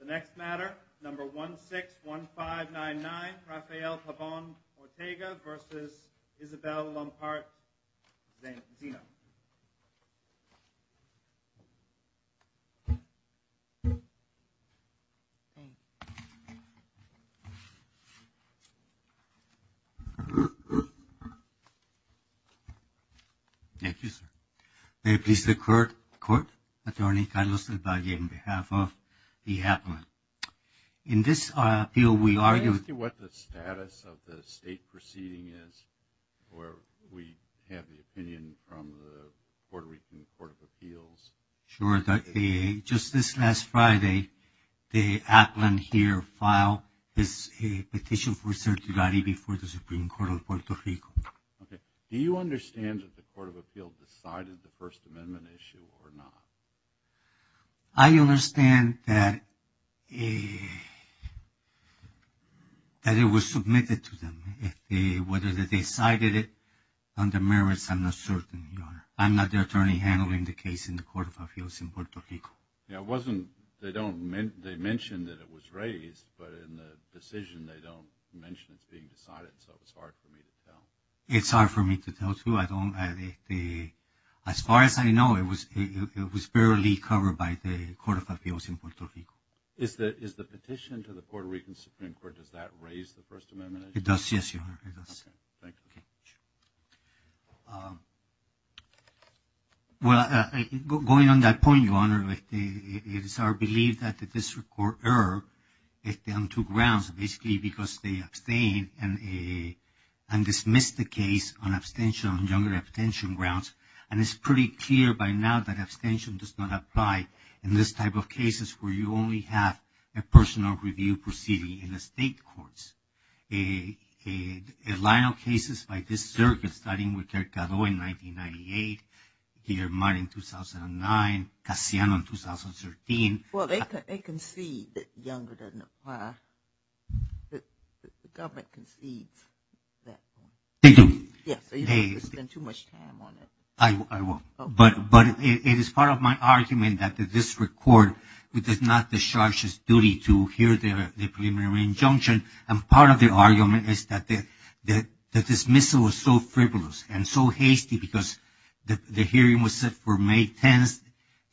The next matter, number 161599, Rafael Pabon-Ortega v. Isabel Llompart-Zeno. Thank you, sir. May it please the court, Attorney Carlos del Valle, on behalf of the appellant. In this appeal, we argue- Sure. Just this last Friday, the appellant here filed his petition for certiorari before the Supreme Court of Puerto Rico. Do you understand that the Court of Appeals decided the First Amendment issue or not? I understand that it was submitted to them. Whether they decided it under merits, I'm not certain, Your Honor. I'm not the attorney handling the case in the Court of Appeals in Puerto Rico. Yeah, it wasn't- They mentioned that it was raised, but in the decision, they don't mention it being decided, so it's hard for me to tell. As far as I know, it was barely covered by the Court of Appeals in Puerto Rico. Is the petition to the Puerto Rican Supreme Court, does that raise the First Amendment issue? It does, yes, Your Honor. It does. Okay. Thank you very much. Well, going on that point, Your Honor, it is our belief that the district court erred on two grounds. Basically, because they abstained and dismissed the case on abstention on younger abstention grounds. And it's pretty clear by now that abstention does not apply in this type of cases where you only have a personal review proceeding in the state courts. A line of cases like this circuit starting with Ted Caddo in 1998, Guillermo in 2009, Casiano in 2013. Well, they concede that younger doesn't apply. The government concedes that. They do. Yes, so you don't have to spend too much time on it. I won't. Okay. But it is part of my argument that the district court does not discharge its duty to hear the preliminary injunction. And part of the argument is that the dismissal was so frivolous and so hasty because the hearing was set for May 10th.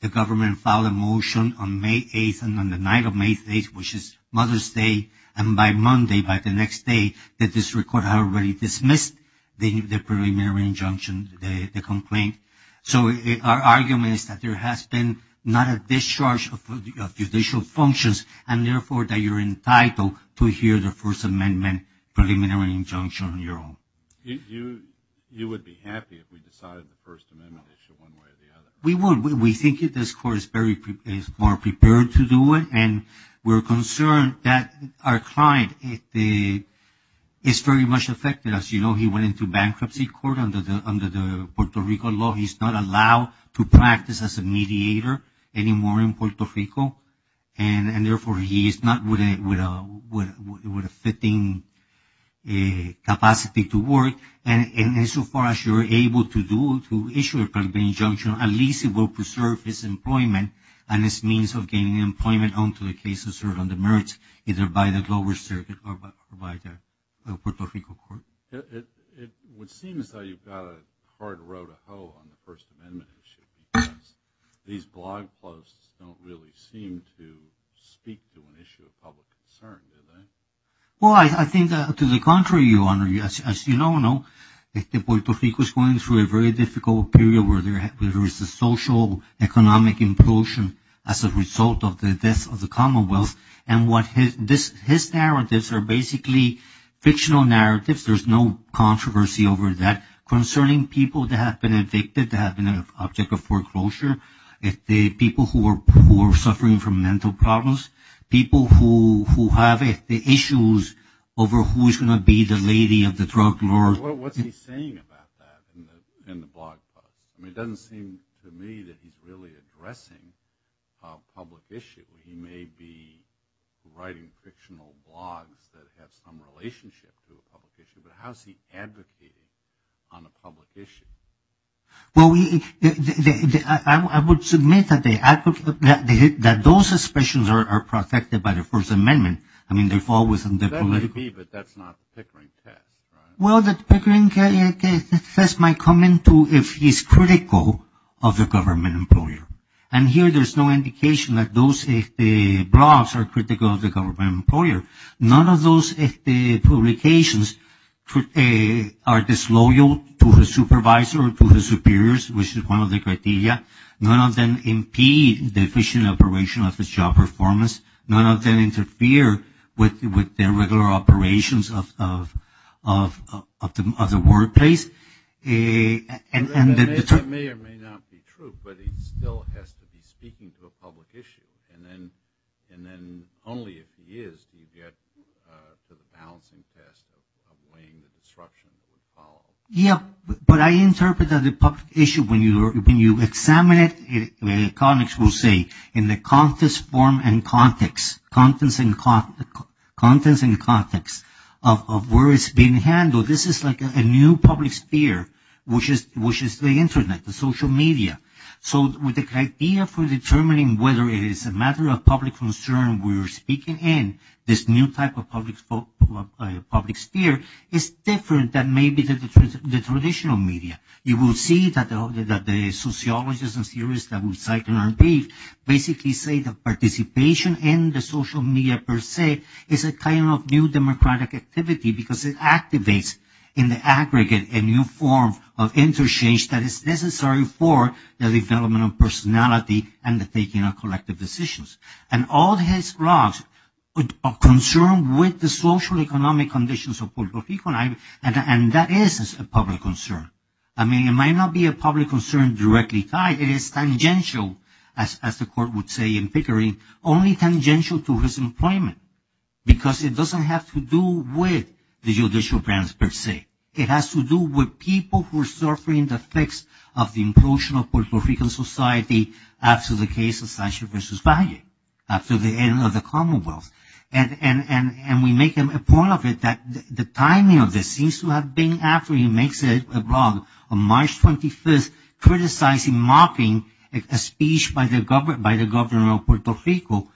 The government filed a motion on May 8th and on the night of May 8th, which is Mother's Day. And by Monday, by the next day, the district court already dismissed the preliminary injunction, the complaint. So our argument is that there has been not a discharge of judicial functions and, therefore, that you're entitled to hear the First Amendment preliminary injunction on your own. You would be happy if we decided the First Amendment issue one way or the other. We would. We think this court is more prepared to do it. And we're concerned that our client is very much affected. As you know, he went into bankruptcy court under the Puerto Rico law. He's not allowed to practice as a mediator anymore in Puerto Rico. And, therefore, he is not with a fitting capacity to work. And so far as you're able to do, to issue a preliminary injunction, at least it will preserve his employment and his means of gaining employment on the merits either by the lower circuit or by the Puerto Rico court. It would seem as though you've got a hard row to hoe on the First Amendment issue. These blog posts don't really seem to speak to an issue of public concern, do they? Well, I think to the contrary, Your Honor. As you all know, Puerto Rico is going through a very difficult period where there is a social, economic implosion as a result of the death of the Commonwealth. And his narratives are basically fictional narratives. There's no controversy over that concerning people that have been evicted, that have been an object of foreclosure, people who are suffering from mental problems, people who have issues over who is going to be the lady of the drug lord. What's he saying about that in the blog post? I mean, it doesn't seem to me that he's really addressing a public issue. He may be writing fictional blogs that have some relationship to a public issue, but how is he advocating on a public issue? Well, I would submit that those suspicions are protected by the First Amendment. I mean, they fall within the political – That may be, but that's not the Pickering test, right? Well, the Pickering test might come into if he's critical of the government employer. And here there's no indication that those blogs are critical of the government employer. None of those publications are disloyal to the supervisor or to the superiors, which is one of the criteria. None of them impede the efficient operation of the job performance. None of them interfere with the regular operations of the workplace. That may or may not be true, but he still has to be speaking to a public issue, and then only if he is do you get the balancing test of weighing the disruption that would follow. Yeah, but I interpret that the public issue, when you examine it, in the context form and context of where it's being handled, this is like a new public sphere, which is the Internet, the social media. So the idea for determining whether it is a matter of public concern we're speaking in, this new type of public sphere, is different than maybe the traditional media. You will see that the sociologists and theorists that we cite in our brief basically say that participation in the social media per se is a kind of new democratic activity because it activates in the aggregate a new form of interchange that is necessary for the development of personality and the taking of collective decisions. And all his blogs are concerned with the social economic conditions of Puerto Rico, and that is a public concern. I mean, it might not be a public concern directly tied. It is tangential, as the court would say in Pickering, only tangential to his employment because it doesn't have to do with the judicial branch per se. It has to do with people who are suffering the effects of the implosion of Puerto Rican society after the case of Sanchez v. Valle, after the end of the Commonwealth. And we make him a point of it that the timing of this seems to have been after he makes a blog on March 25th criticizing, mocking a speech by the governor of Puerto Rico.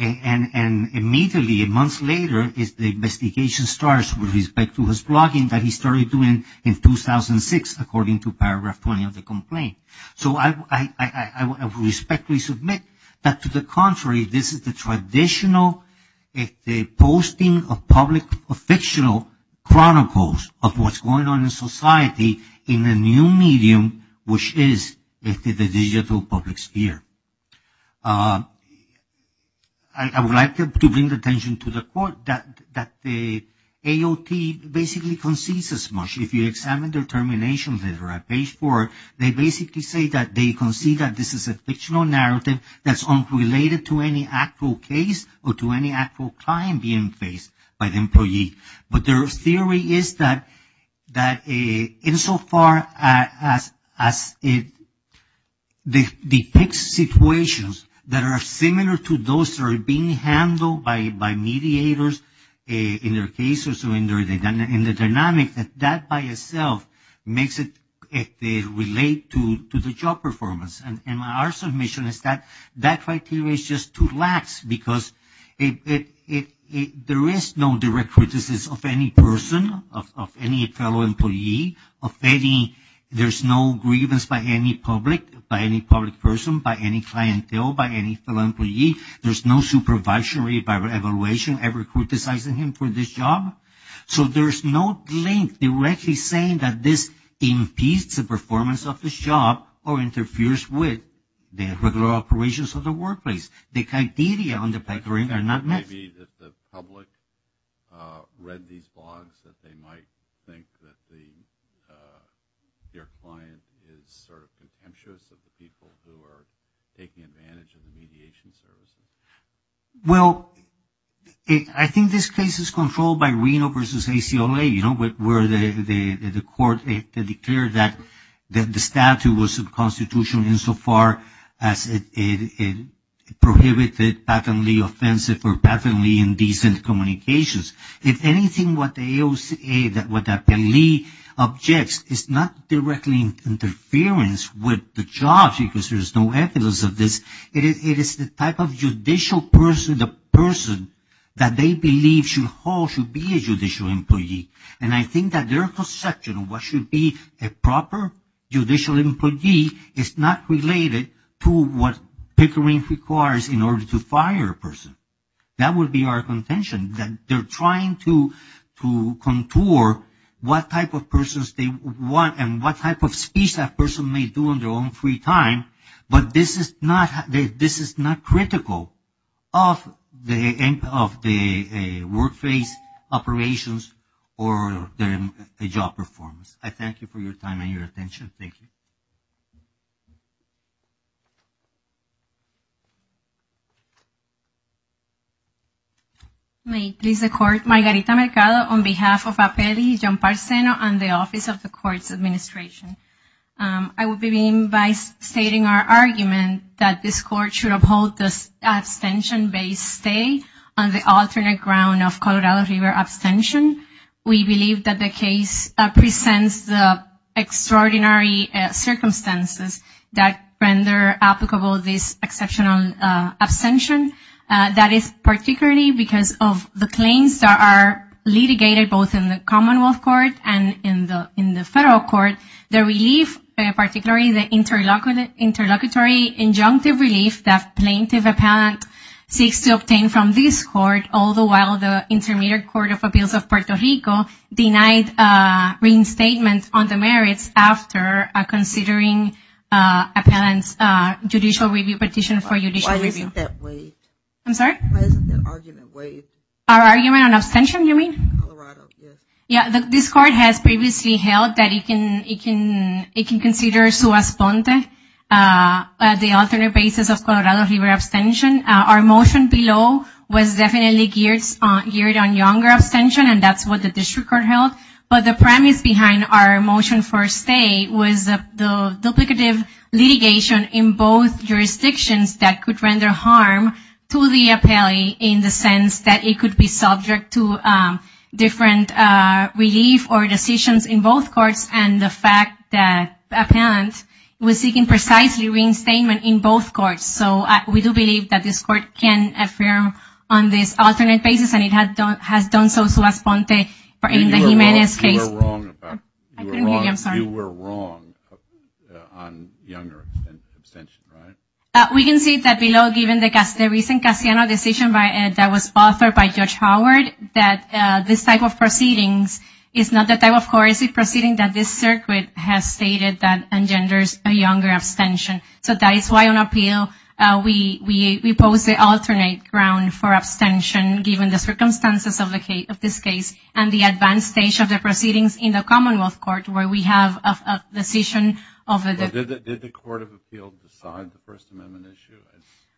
And immediately, months later, the investigation starts with respect to his blogging that he started doing in 2006 according to paragraph 20 of the complaint. So I respectfully submit that to the contrary, this is the traditional posting of public, of fictional chronicles of what's going on in society in a new medium, which is the digital public sphere. I would like to bring the attention to the court that the AOT basically concedes as much. If you examine their termination letter at page four, they basically say that they concede that this is a fictional narrative that's unrelated to any actual case or to any actual client being faced by the employee. But their theory is that insofar as it depicts situations that are similar to those that are being handled by mediators in their cases or in the dynamics, that that by itself makes it relate to the job performance. And our submission is that that criteria is just too lax because there is no direct criticism of any person, of any fellow employee, there's no grievance by any public person, by any clientele, by any fellow employee. There's no supervisory evaluation ever criticizing him for this job. So there's no link directly saying that this impedes the performance of this job or interferes with the regular operations of the workplace. The criteria on the background are not met. Maybe that the public read these blogs that they might think that their client is sort of contemptuous of the people who are taking advantage of the mediation services. Well, I think this case is controlled by Reno versus ACLA, you know, where the court declared that the statute was subconstitutional insofar as it prohibited patently offensive or patently indecent communications. If anything, what the AOCA, what the APLEI objects is not directly interference with the jobs because there's no evidence of this. It is the type of judicial person, the person that they believe should hold, should be a judicial employee. And I think that their conception of what should be a proper judicial employee is not related to what Pickering requires in order to fire a person. That would be our contention, that they're trying to contour what type of persons they want and what type of speech that person may do in their own free time. But this is not critical of the workplace operations or the job performance. I thank you for your time and your attention. Thank you. May it please the court, Margarita Mercado on behalf of APLEI, John Parceno, and the Office of the Court's Administration. I will begin by stating our argument that this court should uphold this abstention-based stay on the alternate ground of Colorado River abstention. We believe that the case presents the extraordinary circumstances that render applicable this exceptional abstention. That is particularly because of the claims that are litigated both in the Commonwealth Court and in the Federal Court. The relief, particularly the interlocutory injunctive relief that plaintiff-appellant seeks to obtain from this court, all the while the Intermediate Court of Appeals of Puerto Rico denied reinstatement on the merits after considering appellant's judicial review petition for judicial review. Why isn't that waived? I'm sorry? Why isn't that argument waived? Our argument on abstention, you mean? Colorado, yes. Yeah, this court has previously held that it can consider su responde at the alternate basis of Colorado River abstention. Our motion below was definitely geared on younger abstention, and that's what the district court held. But the premise behind our motion for stay was the duplicative litigation in both jurisdictions that could render harm to the appellee in the sense that it could be subject to different relief or decisions in both courts, and the fact that appellant was seeking precisely reinstatement in both courts. So we do believe that this court can affirm on this alternate basis, and it has done so su responde in the Jimenez case. You were wrong on younger abstention, right? We can see that below, given the recent Castellano decision that was authored by Judge Howard, that this type of proceedings is not the type of court proceeding that this circuit has stated that engenders a younger abstention. So that is why on appeal, we pose the alternate ground for abstention, given the circumstances of this case and the advanced stage of the proceedings in the Commonwealth Court, where we have a decision of the- Did the Court of Appeal decide the First Amendment issue?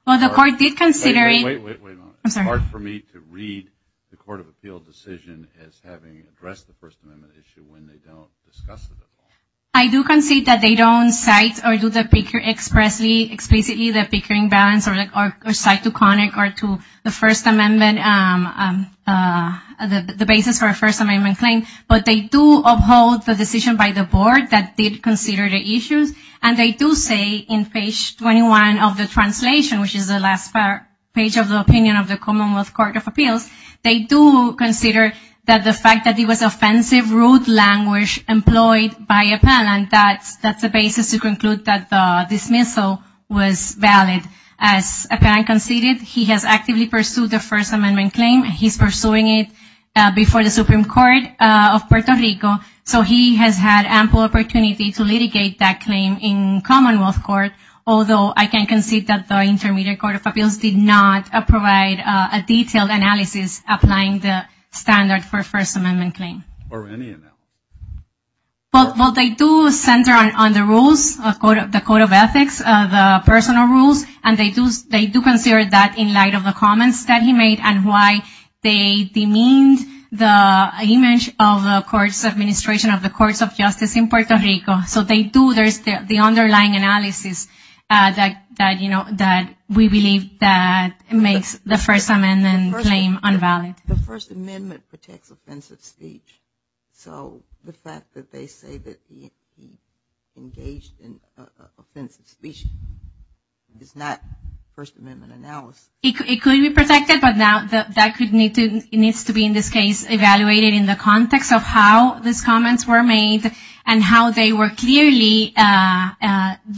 Well, the court did consider- Wait, wait, wait. I'm sorry. It's hard for me to read the Court of Appeal decision as having addressed the First Amendment issue when they don't discuss it at all. I do concede that they don't cite or do the picker explicitly, the pickering balance or cite to Connick or to the First Amendment, the basis for a First Amendment claim, but they do uphold the decision by the board that did consider the issues, and they do say in page 21 of the translation, which is the last page of the opinion of the Commonwealth Court of Appeals, they do consider that the fact that it was offensive rude language employed by appellant, that's the basis to conclude that the dismissal was valid. As appellant conceded, he has actively pursued the First Amendment claim. He's pursuing it before the Supreme Court of Puerto Rico, so he has had ample opportunity to litigate that claim in Commonwealth Court, although I can concede that the Intermediate Court of Appeals did not provide a detailed analysis applying the standard for a First Amendment claim. Well, they do center on the rules, the Code of Ethics, the personal rules, and they do consider that in light of the comments that he made and why they demean the image of the courts administration of the courts of justice in Puerto Rico. So they do, there's the underlying analysis that, you know, that we believe that makes the First Amendment claim unvalid. The First Amendment protects offensive speech, so the fact that they say that he engaged in offensive speech is not First Amendment analysis. It could be protected, but that needs to be, in this case, evaluated in the context of how these comments were made and how they were clearly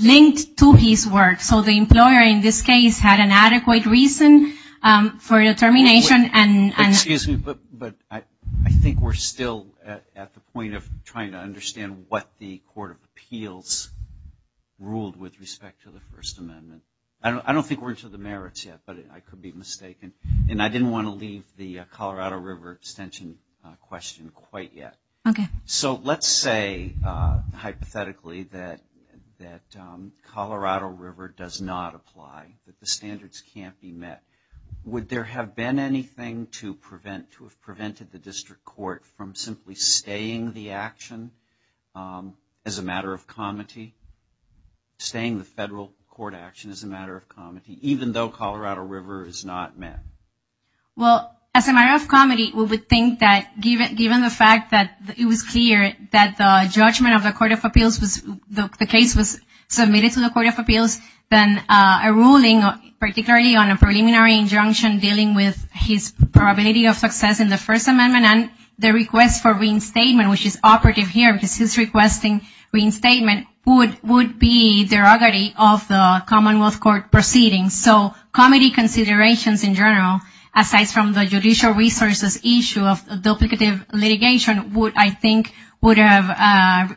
linked to his work. So the employer, in this case, had an adequate reason for determination. Excuse me, but I think we're still at the point of trying to understand what the Court of Appeals ruled with respect to the First Amendment. I don't think we're into the merits yet, but I could be mistaken. And I didn't want to leave the Colorado River extension question quite yet. Okay. So let's say, hypothetically, that Colorado River does not apply, that the standards can't be met. Would there have been anything to prevent, to have prevented the district court from simply staying the action as a matter of comity, staying the federal court action as a matter of comity, even though Colorado River is not met? Well, as a matter of comity, we would think that given the fact that it was clear that the judgment of the Court of Appeals was, the case was submitted to the Court of Appeals, then a ruling, particularly on a preliminary injunction dealing with his probability of success in the First Amendment and the request for reinstatement, which is operative here because he's requesting reinstatement, would be derogatory of the Commonwealth Court proceedings. So comity considerations in general, aside from the judicial resources issue of duplicative litigation, would, I think, would have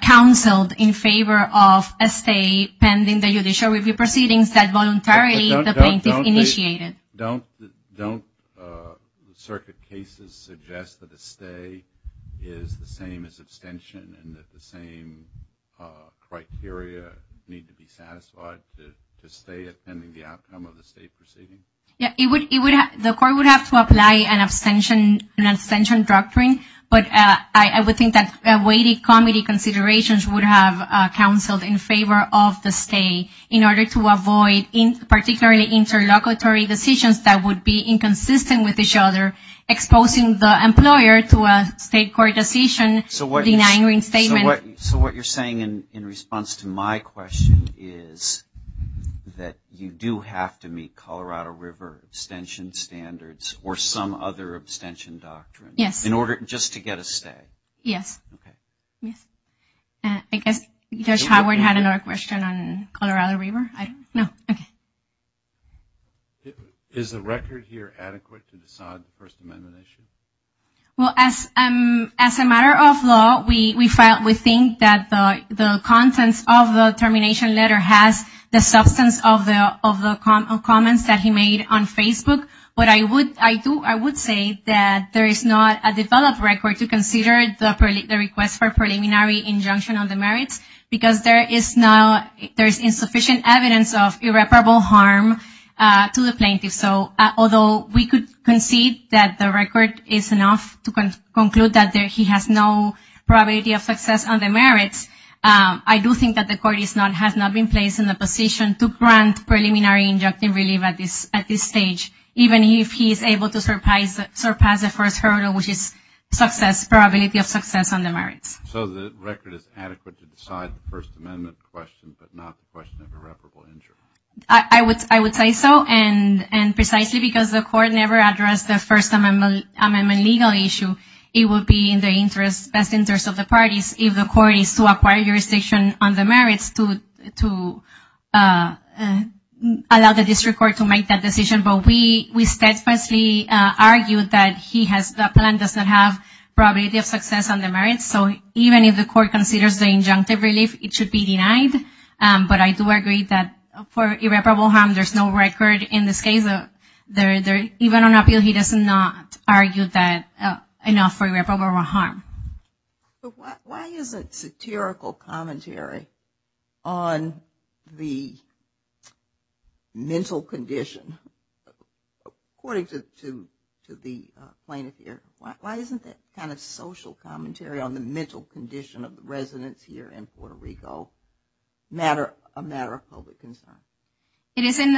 counseled in favor of a stay pending the judicial review proceedings that voluntarily the plaintiff initiated. Don't circuit cases suggest that a stay is the same as abstention, and that the same criteria need to be satisfied to stay attending the outcome of the state proceedings? Yeah, the court would have to apply an abstention doctrine, but I would think that weighted comity considerations would have counseled in favor of the stay in order to avoid particularly interlocutory decisions that would be inconsistent with each other, exposing the employer to a state court decision denying reinstatement. So what you're saying in response to my question is that you do have to meet Colorado River abstention standards or some other abstention doctrine just to get a stay? Yes. I guess Judge Howard had another question on Colorado River? No? Okay. Is the record here adequate to decide the First Amendment issue? Well, as a matter of law, we think that the contents of the termination letter has the substance of the comments that he made on Facebook. But I would say that there is not a developed record to consider the request for preliminary injunction on the merits because there is insufficient evidence of irreparable harm to the plaintiff. So although we could concede that the record is enough to conclude that he has no probability of success on the merits, I do think that the court has not been placed in a position to grant preliminary injunction relief at this stage, even if he is able to surpass the first hurdle, which is probability of success on the merits. So the record is adequate to decide the First Amendment question, but not the question of irreparable injury? I would say so. And precisely because the court never addressed the First Amendment legal issue, it would be in the best interest of the parties if the court is to acquire jurisdiction on the merits to allow the district court to make that decision. But we steadfastly argue that the plaintiff does not have probability of success on the merits. So even if the court considers the injunctive relief, it should be denied. But I do agree that for irreparable harm, there is no record in this case. Even on appeal, he does not argue that enough for irreparable harm. Why isn't satirical commentary on the mental condition, according to the plaintiff here, why isn't that kind of social commentary on the mental condition of the residents here in Puerto Rico a matter of public concern? It is in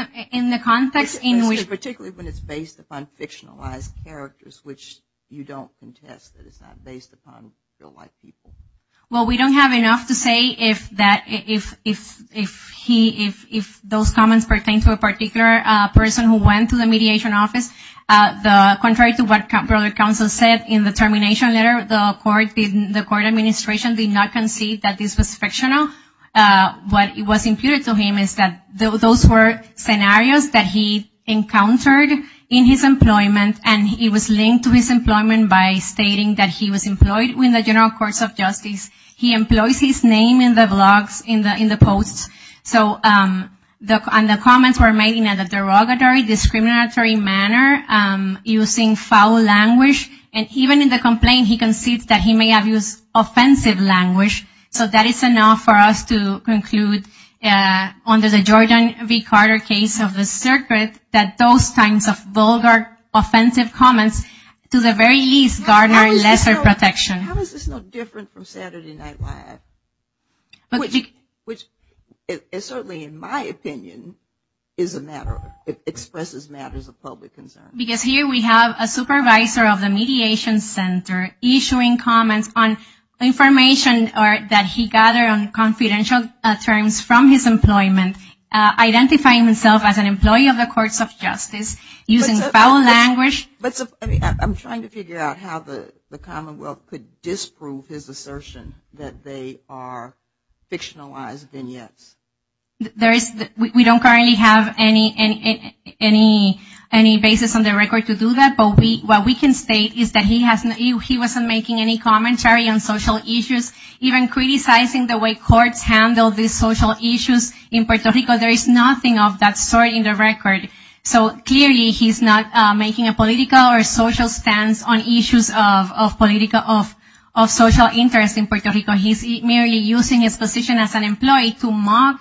the context in which... Particularly when it's based upon fictionalized characters, which you don't contest that it's not based upon real-life people. Well, we don't have enough to say if those comments pertain to a particular person who went to the mediation office. Contrary to what Brother Counsel said in the termination letter, the court administration did not concede that this was fictional. What was imputed to him is that those were scenarios that he encountered in his employment, and it was linked to his employment by stating that he was employed in the general courts of justice. He employs his name in the blogs, in the posts. So the comments were made in a derogatory, discriminatory manner, using foul language. And even in the complaint, he concedes that he may have used offensive language. So that is enough for us to conclude, under the Georgian v. Carter case of the circuit, that those kinds of vulgar, offensive comments, to the very least, garner lesser protection. How is this no different from Saturday Night Live? Which, certainly in my opinion, is a matter of... expresses matters of public concern. Because here we have a supervisor of the mediation center issuing comments on information that he gathered on confidential terms from his employment, identifying himself as an employee of the courts of justice, using foul language. I'm trying to figure out how the Commonwealth could disprove his assertion that they are fictionalized vignettes. We don't currently have any basis on the record to do that, but what we can state is that he wasn't making any commentary on social issues, even criticizing the way courts handle these social issues in Puerto Rico. There is nothing of that sort in the record. So clearly he's not making a political or social stance on issues of social interest in Puerto Rico. He's merely using his position as an employee to mock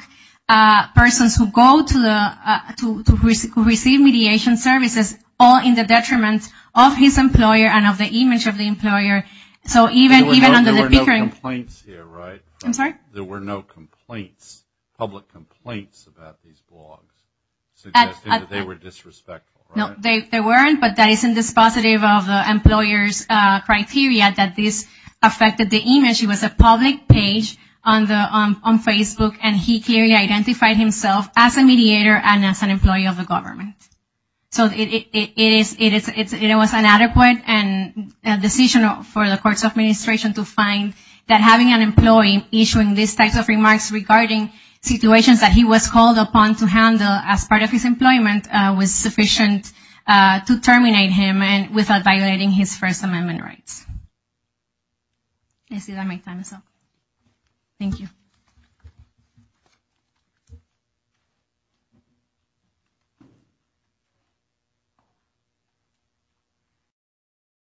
persons who go to receive mediation services, all in the detriment of his employer and of the image of the employer. So even under the... There were no complaints here, right? I'm sorry? There were no complaints, public complaints, about these blogs. They were disrespectful, right? No, they weren't, but that isn't dispositive of the employer's criteria that this affected the image. It was a public page on Facebook, and he clearly identified himself as a mediator and as an employee of the government. So it was an adequate decision for the court's administration to find that having an employee issuing these types of remarks regarding situations that he was called upon to handle as part of his employment was sufficient to terminate him without violating his First Amendment rights. I see that my time is up. Thank you.